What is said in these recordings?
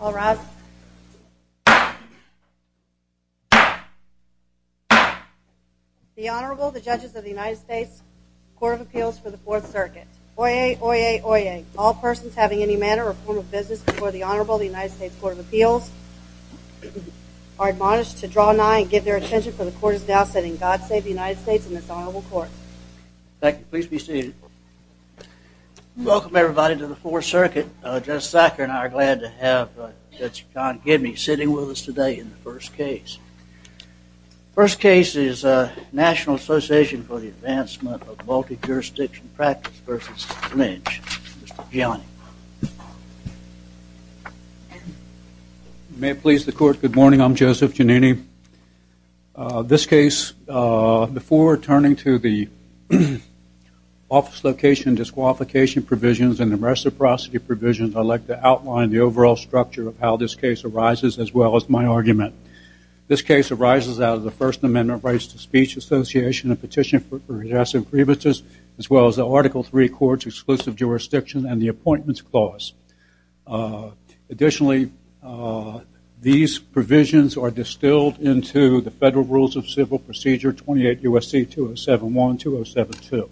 All rise. The Honorable, the Judges of the United States Court of Appeals for the Fourth Circuit. Oyez! Oyez! Oyez! All persons having any manner or form of business before the Honorable of the United States Court of Appeals are admonished to draw nigh and give their attention for the Court is now sitting. God save the United States and this Honorable Court. Thank you. Please be seated. Welcome, everybody, to the Fourth Circuit. Judge Sacker and I are glad to have Judge John Gibney sitting with us today in the first case. The first case is National Association for the Advancement of Multi-Jurisdiction Practice v. Lynch. Mr. Gianni. May it please the Court, good morning. I'm Joseph Giannini. This case, before turning to the office location disqualification provisions and the reciprocity provisions, I'd like to outline the overall structure of how this case arises, as well as my argument. This case arises out of the First Amendment Rights to Speech Association and Petition for Excessive Grievances, as well as the Article III Courts Exclusive Jurisdiction and the Appointments Clause. Additionally, these provisions are distilled into the Federal Rules of Civil Procedure 28 U.S.C. 2071-2072.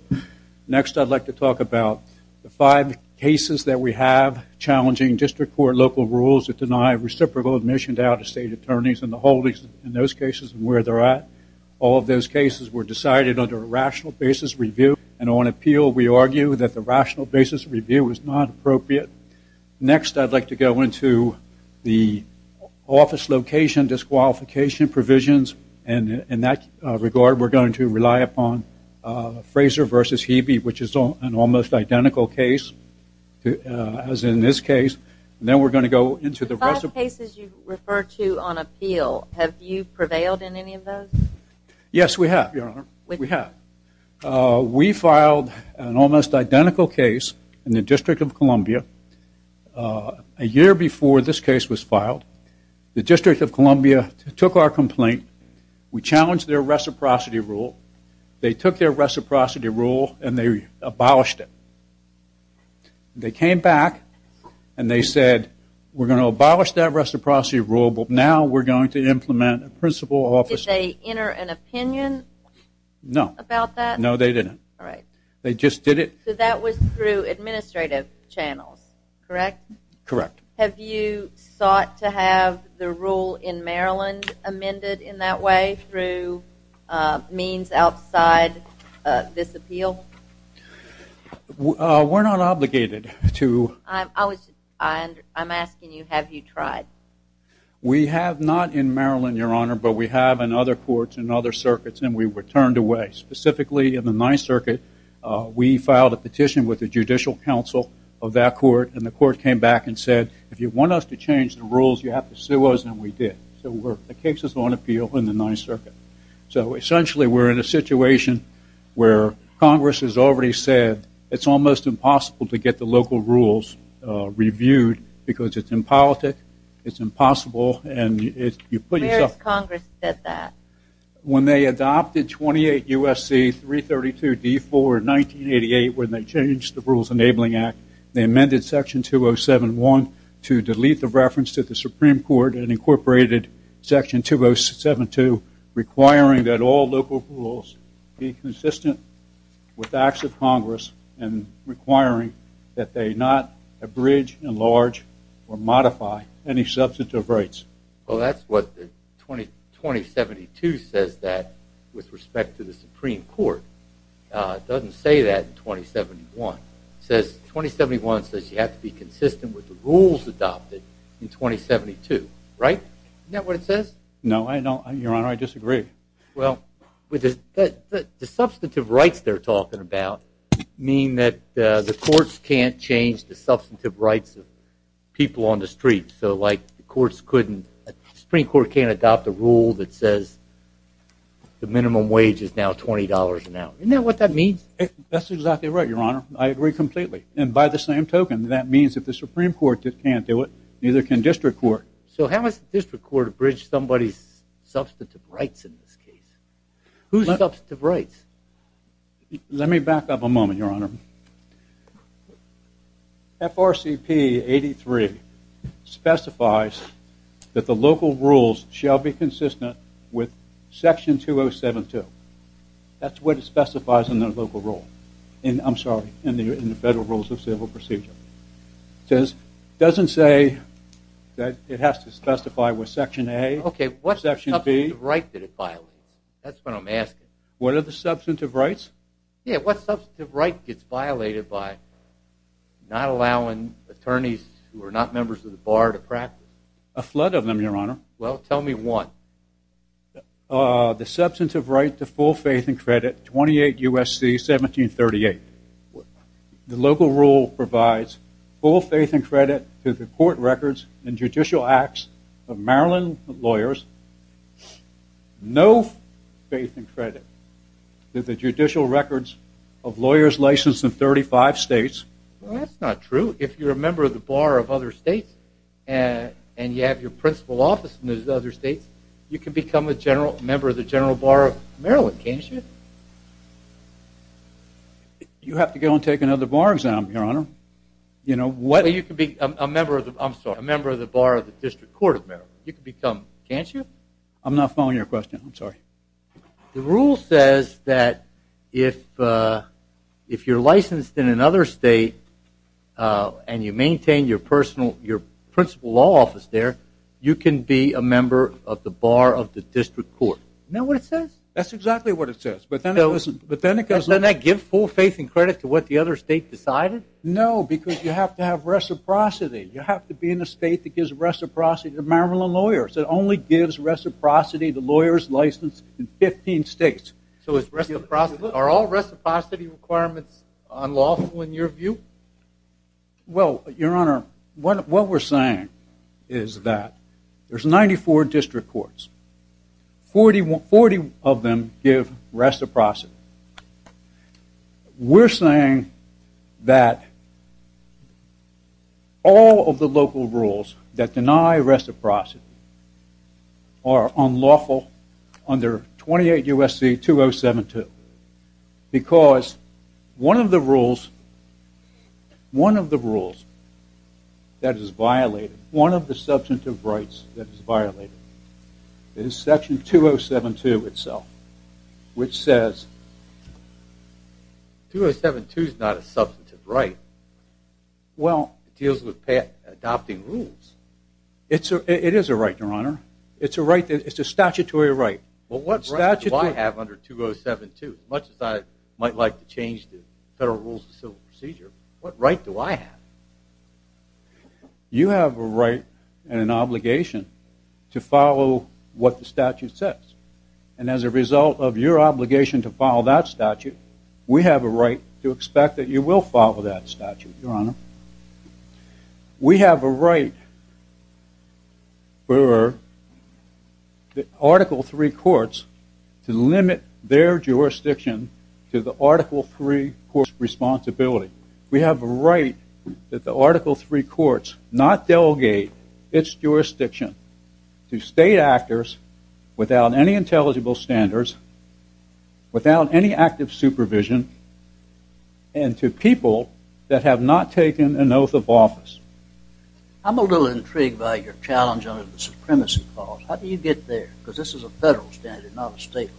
Next, I'd like to talk about the five cases that we have challenging district court local rules that deny reciprocal admission to out-of-state attorneys and the holdings in those cases and where they're at. All of those cases were decided under a rational basis review, and on appeal we argue that the rational basis review was not appropriate. Next, I'd like to go into the office location disqualification provisions, and in that regard we're going to rely upon Frazer v. Hebe, which is an almost identical case as in this case. Then we're going to go into the reciprocity. The five cases you refer to on appeal, have you prevailed in any of those? Yes, we have, Your Honor. We have. We filed an almost identical case in the District of Columbia a year before this case was filed. The District of Columbia took our complaint. We challenged their reciprocity rule. They took their reciprocity rule and they abolished it. They came back and they said, we're going to abolish that reciprocity rule, but now we're going to implement a principal office. Did they enter an opinion? No. About that? No, they didn't. All right. They just did it. So that was through administrative channels, correct? Correct. Have you sought to have the rule in Maryland amended in that way through means outside this appeal? We're not obligated to. I'm asking you, have you tried? We have not in Maryland, Your Honor, but we have in other courts and other circuits, and we were turned away. Specifically in the Ninth Circuit, we filed a petition with the Judicial Council of that court, and the court came back and said, if you want us to change the rules, you have to sue us, and we did. So the case is on appeal in the Ninth Circuit. So essentially we're in a situation where Congress has already said it's almost impossible to get the local rules reviewed because it's impolitic, it's impossible. Where has Congress said that? When they adopted 28 U.S.C. 332-D4 in 1988 when they changed the Rules Enabling Act, they amended Section 207-1 to delete the reference to the Supreme Court and incorporated Section 207-2 requiring that all local rules be consistent with acts of Congress and requiring that they not abridge, enlarge, or modify any substantive rights. Well, that's what 2072 says that with respect to the Supreme Court. It doesn't say that in 2071. It says 2071 says you have to be consistent with the rules adopted in 2072, right? Isn't that what it says? No, Your Honor, I disagree. Well, the substantive rights they're talking about mean that the courts can't change the substantive rights of people on the street. So like the Supreme Court can't adopt a rule that says the minimum wage is now $20 an hour. Isn't that what that means? That's exactly right, Your Honor. I agree completely. And by the same token, that means if the Supreme Court can't do it, neither can district court. So how does district court abridge somebody's substantive rights in this case? Whose substantive rights? Let me back up a moment, Your Honor. FRCP 83 specifies that the local rules shall be consistent with Section 207-2. That's what it specifies in the local rule. I'm sorry, in the Federal Rules of Civil Procedure. It doesn't say that it has to specify with Section A or Section B. Okay, what substantive right did it violate? That's what I'm asking. What are the substantive rights? Yeah, what substantive right gets violated by not allowing attorneys who are not members of the bar to practice? A flood of them, Your Honor. Well, tell me one. The substantive right to full faith and credit, 28 U.S.C. 1738. The local rule provides full faith and credit to the court records and judicial acts of Maryland lawyers, no faith and credit to the judicial records of lawyers licensed in 35 states. Well, that's not true. If you're a member of the bar of other states and you have your principal office in those other states, you can become a member of the General Bar of Maryland, can't you? You have to go and take another bar exam, Your Honor. You can be a member of the Bar of the District Court of Maryland. You can become, can't you? I'm not following your question. I'm sorry. The rule says that if you're licensed in another state and you maintain your principal law office there, you can be a member of the Bar of the District Court. Isn't that what it says? That's exactly what it says. But then it goes on. Doesn't that give full faith and credit to what the other state decided? No, because you have to have reciprocity. You have to be in a state that gives reciprocity to Maryland lawyers. It only gives reciprocity to lawyers licensed in 15 states. So are all reciprocity requirements unlawful in your view? Well, Your Honor, what we're saying is that there's 94 district courts. Forty of them give reciprocity. We're saying that all of the local rules that deny reciprocity are unlawful under 28 U.S.C. 2072 because one of the rules that is violated, one of the substantive rights that is violated, is Section 2072 itself, which says... 2072 is not a substantive right. Well... It deals with adopting rules. It is a right, Your Honor. It's a statutory right. Well, what right do I have under 2072? Much as I might like to change the Federal Rules of Civil Procedure, what right do I have? You have a right and an obligation to follow what the statute says. And as a result of your obligation to follow that statute, we have a right to expect that you will follow that statute, Your Honor. We have a right for Article III courts to limit their jurisdiction to the Article III court's responsibility. We have a right that the Article III courts not delegate its jurisdiction to state actors without any intelligible standards, without any active supervision, and to people that have not taken an oath of office. I'm a little intrigued by your challenge under the Supremacy Clause. How do you get there? Because this is a federal standard, not a state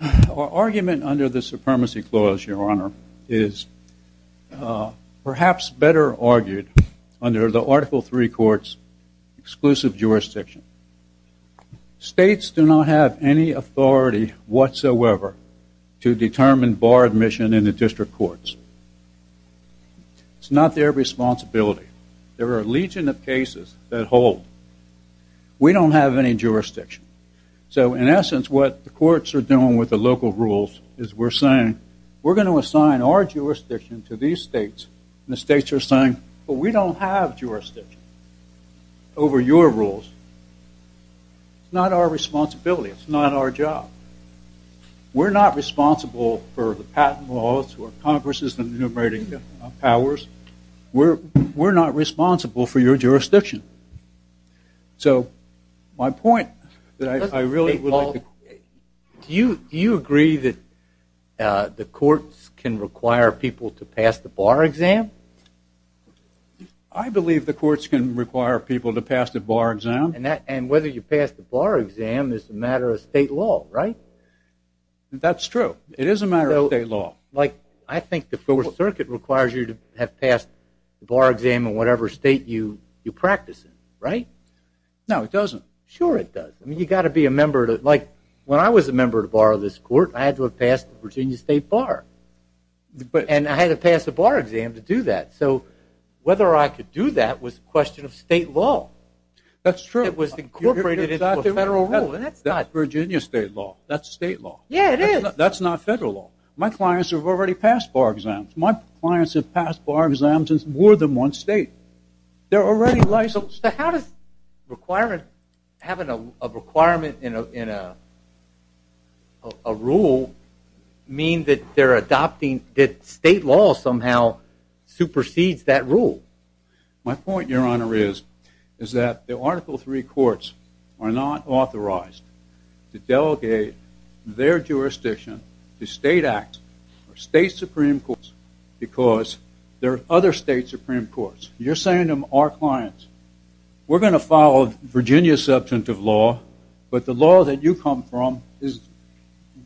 law. Our argument under the Supremacy Clause, Your Honor, is perhaps better argued under the Article III court's exclusive jurisdiction. States do not have any authority whatsoever to determine bar admission in the district courts. It's not their responsibility. There are a legion of cases that hold. We don't have any jurisdiction. So, in essence, what the courts are doing with the local rules is we're saying, we're going to assign our jurisdiction to these states, and the states are saying, well, we don't have jurisdiction over your rules. It's not our responsibility. It's not our job. We're not responsible for the patent laws or Congress's enumerating powers. We're not responsible for your jurisdiction. So, my point that I really would like to... Do you agree that the courts can require people to pass the bar exam? I believe the courts can require people to pass the bar exam. And whether you pass the bar exam is a matter of state law, right? That's true. It is a matter of state law. Like, I think the Fourth Circuit requires you to have passed the bar exam in whatever state you practice in, right? No, it doesn't. Sure it does. I mean, you've got to be a member to... Like, when I was a member to borrow this court, I had to have passed the Virginia State Bar. And I had to pass the bar exam to do that. So, whether I could do that was a question of state law. That's true. It was incorporated into a federal rule, and that's not... That's Virginia State law. That's state law. Yeah, it is. That's not federal law. My clients have already passed bar exams. My clients have passed bar exams in more than one state. They're already licensed. So how does having a requirement in a rule mean that they're adopting... that state law somehow supersedes that rule? My point, Your Honor, is that the Article III courts are not authorized to delegate their jurisdiction to state acts or state supreme courts because there are other state supreme courts. You're saying to our clients, we're going to follow Virginia's substantive law, but the law that you come from is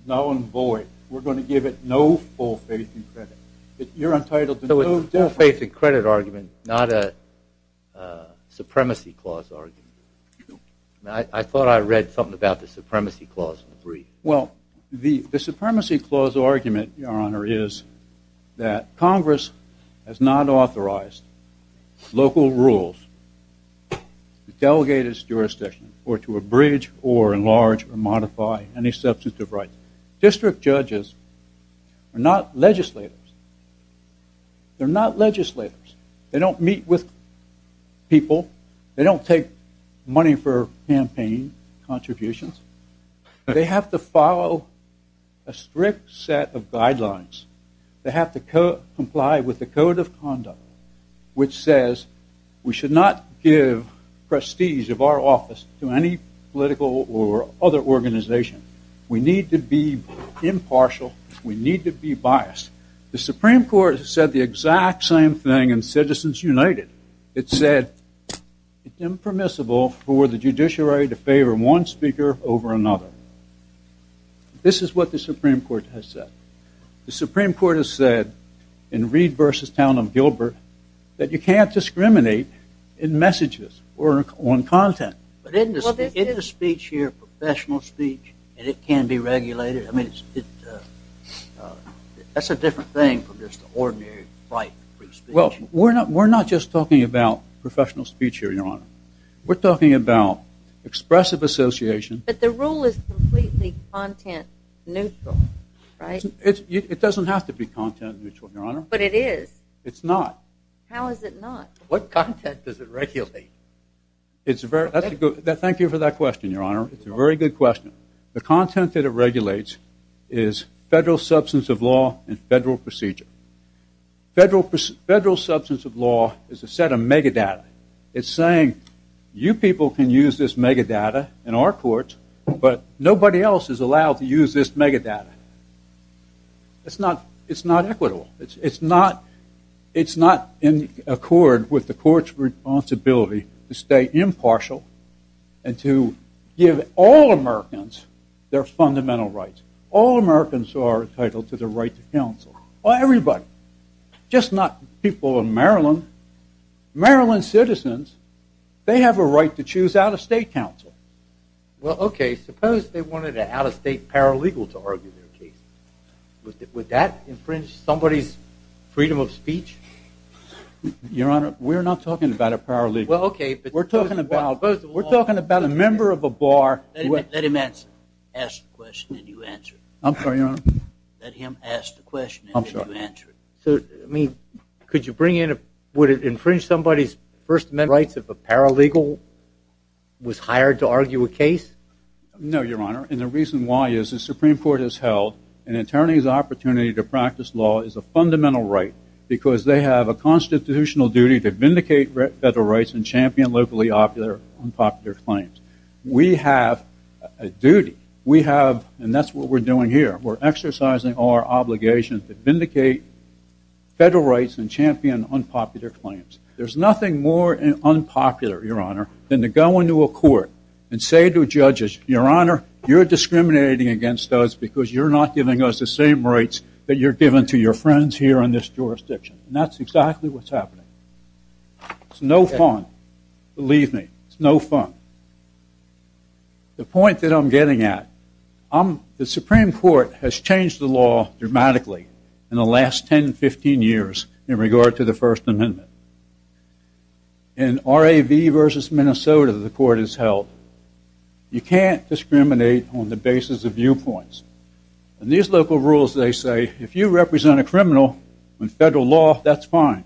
null and void. We're going to give it no full faith and credit. You're entitled to no... So it's a full faith and credit argument, not a supremacy clause argument. I thought I read something about the supremacy clause in the brief. Well, the supremacy clause argument, Your Honor, is that Congress has not authorized local rules to delegate its jurisdiction or to abridge or enlarge or modify any substantive rights. District judges are not legislators. They're not legislators. They don't meet with people. They don't take money for campaign contributions. They have to follow a strict set of guidelines. They have to comply with the Code of Conduct, which says we should not give prestige of our office to any political or other organization. We need to be impartial. We need to be biased. The Supreme Court said the exact same thing in Citizens United. It said it's impermissible for the judiciary to favor one speaker over another. This is what the Supreme Court has said. The Supreme Court has said in Reed v. Town of Gilbert that you can't discriminate in messages or on content. But isn't the speech here professional speech and it can be regulated? I mean, that's a different thing from just an ordinary right to free speech. Well, we're not just talking about professional speech here, Your Honor. We're talking about expressive association. But the rule is completely content neutral, right? It doesn't have to be content neutral, Your Honor. But it is. It's not. How is it not? What content does it regulate? Thank you for that question, Your Honor. It's a very good question. The content that it regulates is federal substance of law and federal procedure. Federal substance of law is a set of megadata. It's saying you people can use this megadata in our courts, but nobody else is allowed to use this megadata. It's not equitable. It's not in accord with the court's responsibility to stay impartial and to give all Americans their fundamental rights. All Americans are entitled to the right to counsel. Everybody, just not people in Maryland. Maryland citizens, they have a right to choose out-of-state counsel. Well, okay, suppose they wanted an out-of-state paralegal to argue their case. Would that infringe somebody's freedom of speech? Your Honor, we're not talking about a paralegal. We're talking about a member of a bar. Let him ask the question and you answer it. I'm sorry, Your Honor. Let him ask the question and you answer it. So, I mean, could you bring in, would it infringe somebody's First Amendment rights if a paralegal was hired to argue a case? No, Your Honor, and the reason why is the Supreme Court has held an attorney's opportunity to practice law is a fundamental right because they have a constitutional duty to vindicate federal rights and champion locally unpopular claims. We have a duty. We have, and that's what we're doing here, we're exercising our obligations to vindicate federal rights and champion unpopular claims. There's nothing more unpopular, Your Honor, than to go into a court and say to judges, Your Honor, you're discriminating against us because you're not giving us the same rights that you're giving to your friends here in this jurisdiction. And that's exactly what's happening. It's no fun. Believe me, it's no fun. The point that I'm getting at, the Supreme Court has changed the law dramatically in the last 10, 15 years in regard to the First Amendment. In R.A.V. v. Minnesota, the court has held, you can't discriminate on the basis of viewpoints. In these local rules, they say, if you represent a criminal in federal law, that's fine,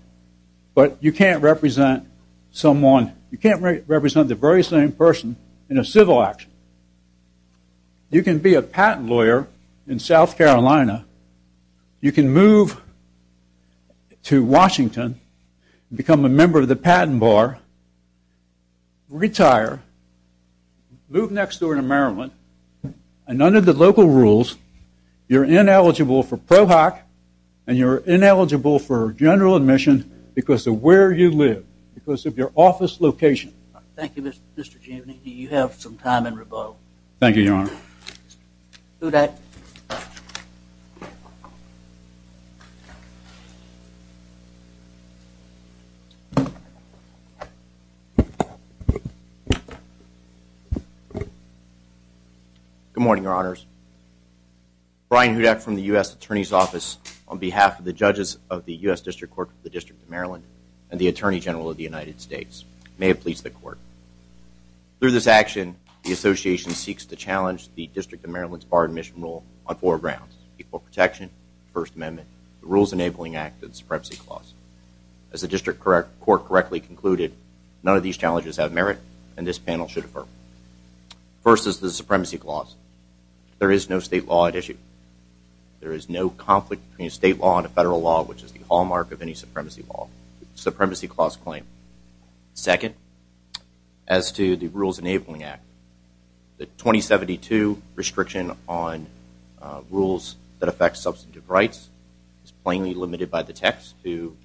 but you can't represent someone, you can't represent the very same person in a civil action. You can be a patent lawyer in South Carolina, you can move to Washington, become a member of the patent bar, retire, move next door to Maryland, and under the local rules, you're ineligible for PROHOC, and you're ineligible for general admission because of where you live, because of your office location. Thank you, Mr. Cheney. You have some time in rebuttal. Thank you, Your Honor. Hudak. Good morning, Your Honors. Brian Hudak from the U.S. Attorney's Office on behalf of the judges of the U.S. District Court of the District of Maryland and the Attorney General of the United States may have pleased the Court. Through this action, the Association seeks to challenge the District of Maryland's Bar Admission Rule on four grounds, First Amendment, the Rules Enabling Act, and the Supremacy Clause. As the District Court correctly concluded, none of these challenges have merit, and this panel should affirm them. First is the Supremacy Clause. There is no state law at issue. There is no conflict between a state law and a federal law, which is the hallmark of any supremacy law, the Supremacy Clause claim. Second, as to the Rules Enabling Act, the 2072 Restriction on Rules that Affect Substantive Rights is plainly limited by the text to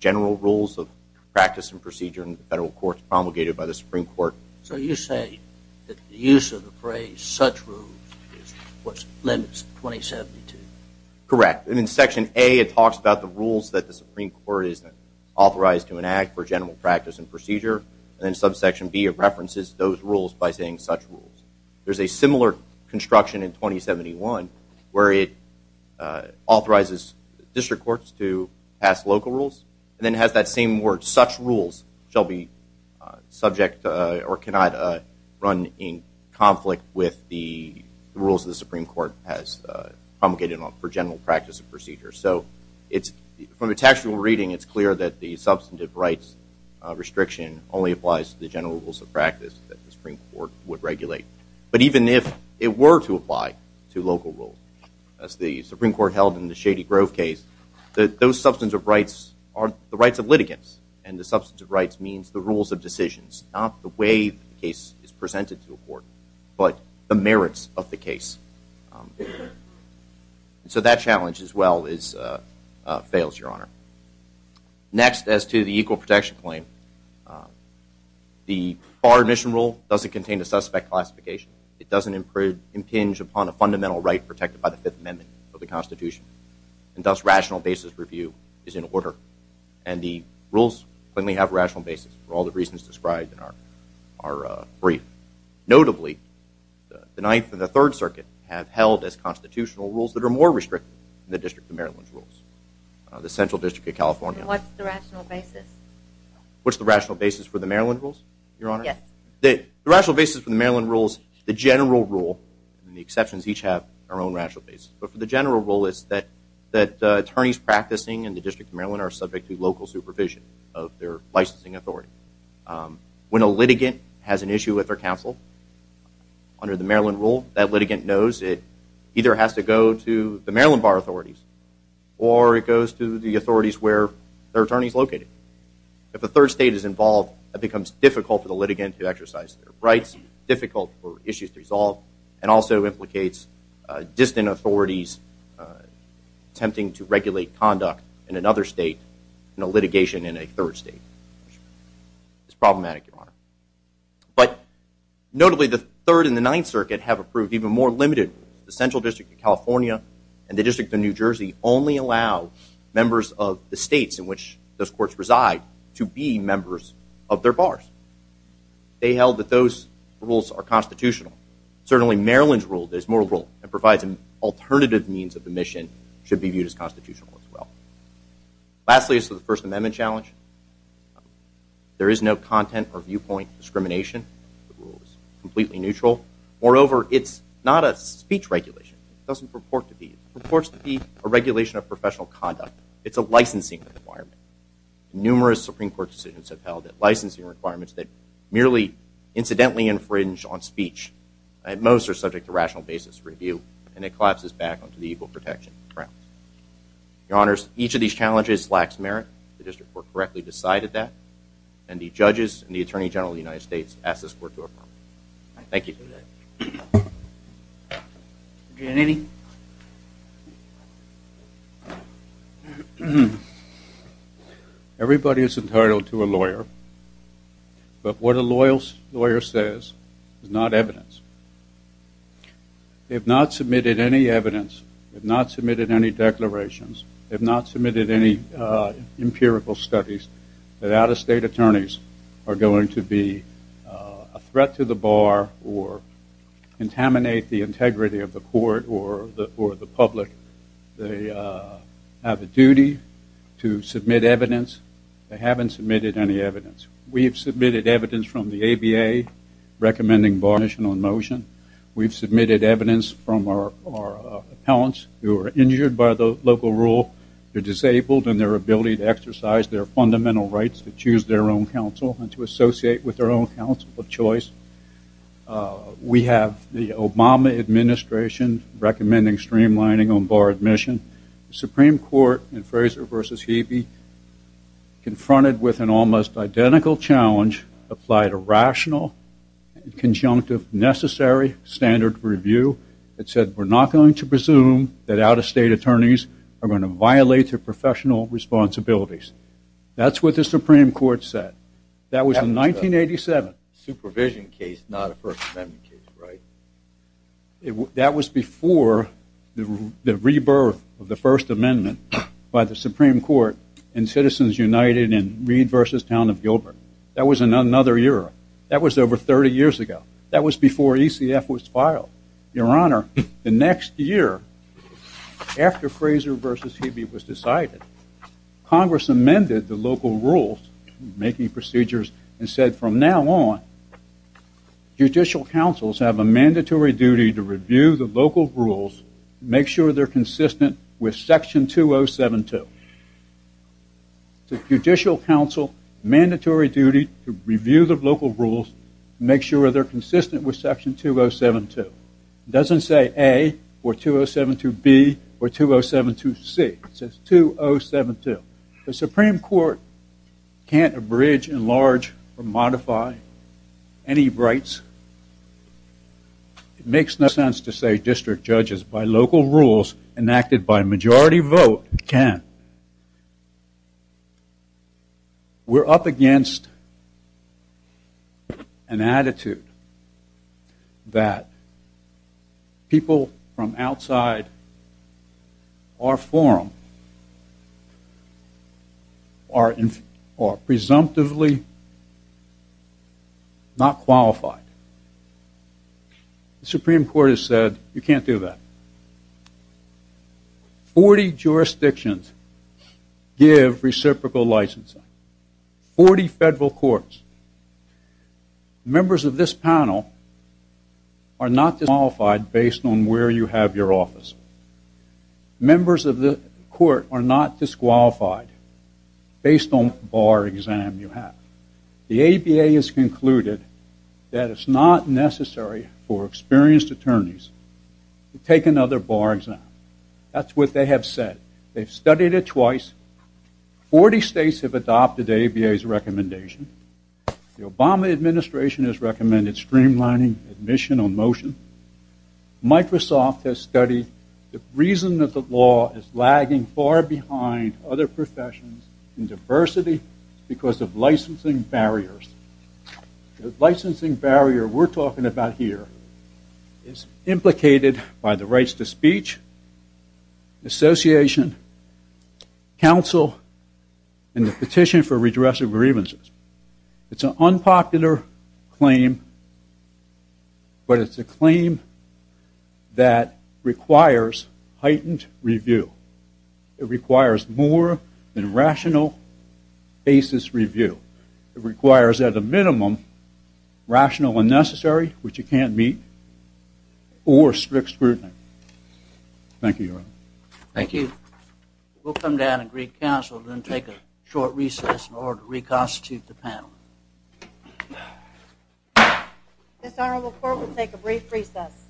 general rules of practice and procedure in the federal courts promulgated by the Supreme Court. So you say that the use of the phrase such rules is what limits 2072? Correct. In Section A, it talks about the rules that the Supreme Court is authorized to enact for general practice and procedure, and then Subsection B it references those rules by saying such rules. There's a similar construction in 2071 where it authorizes district courts to pass local rules, and then has that same word, such rules shall be subject or cannot run in conflict with the rules the Supreme Court has promulgated for general practice and procedure. So from a textual reading, it's clear that the Substantive Rights Restriction only applies to the general rules of practice that the Supreme Court would regulate. But even if it were to apply to local rules, as the Supreme Court held in the Shady Grove case, those substantive rights are the rights of litigants, and the substantive rights means the rules of decisions, not the way the case is presented to a court, but the merits of the case. So that challenge as well fails, Your Honor. Next, as to the Equal Protection Claim, the Bar Admission Rule doesn't contain a suspect classification. It doesn't impinge upon a fundamental right protected by the Fifth Amendment of the Constitution, and thus rational basis review is in order. And the rules plainly have rational basis for all the reasons described in our brief. Notably, the Ninth and the Third Circuit have held as constitutional rules that are more restrictive than the District of Maryland's rules. The Central District of California... And what's the rational basis? What's the rational basis for the Maryland rules, Your Honor? Yes. The rational basis for the Maryland rules, the general rule, and the exceptions each have their own rational basis, but for the general rule, it's that attorneys practicing in the District of Maryland are subject to local supervision of their licensing authority. When a litigant has an issue with their counsel under the Maryland rule, that litigant knows it either has to go to the Maryland Bar authorities or it goes to the authorities where their attorney is located. If a third state is involved, it becomes difficult for the litigant to exercise their rights, difficult for issues to resolve, and also implicates distant authorities attempting to regulate conduct in another state in a litigation in a third state. It's problematic, Your Honor. But notably, the Third and the Ninth Circuit have approved even more limited rules. The Central District of California and the District of New Jersey only allow members of the states in which those courts reside to be members of their bars. They held that those rules are constitutional. Certainly, Maryland's rule is more liberal and provides an alternative means that the mission should be viewed as constitutional as well. Lastly, as to the First Amendment challenge, there is no content or viewpoint discrimination. The rule is completely neutral. Moreover, it's not a speech regulation. It doesn't purport to be. It purports to be a regulation of professional conduct. It's a licensing requirement. Numerous Supreme Court decisions have held that licensing requirements that merely incidentally infringe on speech, at most are subject to rational basis review, and it collapses back onto the equal protection grounds. Your Honors, each of these challenges lacks merit. The District Court correctly decided that, and the judges and the Attorney General of the United States ask this Court to approve. Thank you. Anything? Everybody is entitled to a lawyer, but what a loyal lawyer says is not evidence. They have not submitted any evidence, have not submitted any declarations, have not submitted any empirical studies that out-of-state attorneys are going to be a threat to the bar or contaminate the integrity of the court or the public. They have a duty to submit evidence. They haven't submitted any evidence. We have submitted evidence from the ABA recommending bar admission on motion. We've submitted evidence from our appellants who are injured by the local rule, they're disabled, and their ability to exercise their fundamental rights to choose their own counsel and to associate with their own counsel of choice. We have the Obama Administration recommending streamlining on bar admission. The Supreme Court in Fraser v. Hebe confronted with an almost identical challenge, applied a rational, conjunctive, necessary standard of review that said we're not going to presume that out-of-state attorneys are going to violate their professional responsibilities. That's what the Supreme Court said. That was in 1987. Supervision case, not a First Amendment case, right? That was before the rebirth of the First Amendment by the Supreme Court in Citizens United in Reed v. Town of Gilbert. That was in another era. That was over 30 years ago. That was before ECF was filed. Your Honor, the next year, after Fraser v. Hebe was decided, Congress amended the local rules, making procedures, and said from now on, judicial counsels have a mandatory duty to review the local rules, make sure they're consistent with Section 2072. Judicial counsel, mandatory duty to review the local rules, make sure they're consistent with Section 2072. It doesn't say A or 2072B or 2072C. It says 2072. The Supreme Court can't abridge, enlarge, or modify any rights. It makes no sense to say district judges, by local rules enacted by majority vote, can. We're up against an attitude that people from outside our forum are presumptively not qualified. The Supreme Court has said, you can't do that. Forty jurisdictions give reciprocal licensing. Forty federal courts. Members of this panel are not disqualified based on where you have your office. Members of the court are not disqualified based on the bar exam you have. The ABA has concluded that it's not necessary for experienced attorneys to take another bar exam. That's what they have said. They've studied it twice. Forty states have adopted ABA's recommendation. The Obama administration has recommended streamlining admission on motion. Microsoft has studied the reason that the law is lagging far behind other professions in diversity because of licensing barriers. The licensing barrier we're talking about here is implicated by the rights to speech, association, counsel, and the petition for redress of grievances. It's an unpopular claim, but it's a claim that requires heightened review. It requires more than rational basis review. It requires, at a minimum, rational and necessary, which you can't meet, or strict scrutiny. Thank you, Your Honor. Thank you. We'll come down and greet counsel and then take a short recess in order to reconstitute the panel. This honorable court will take a brief recess.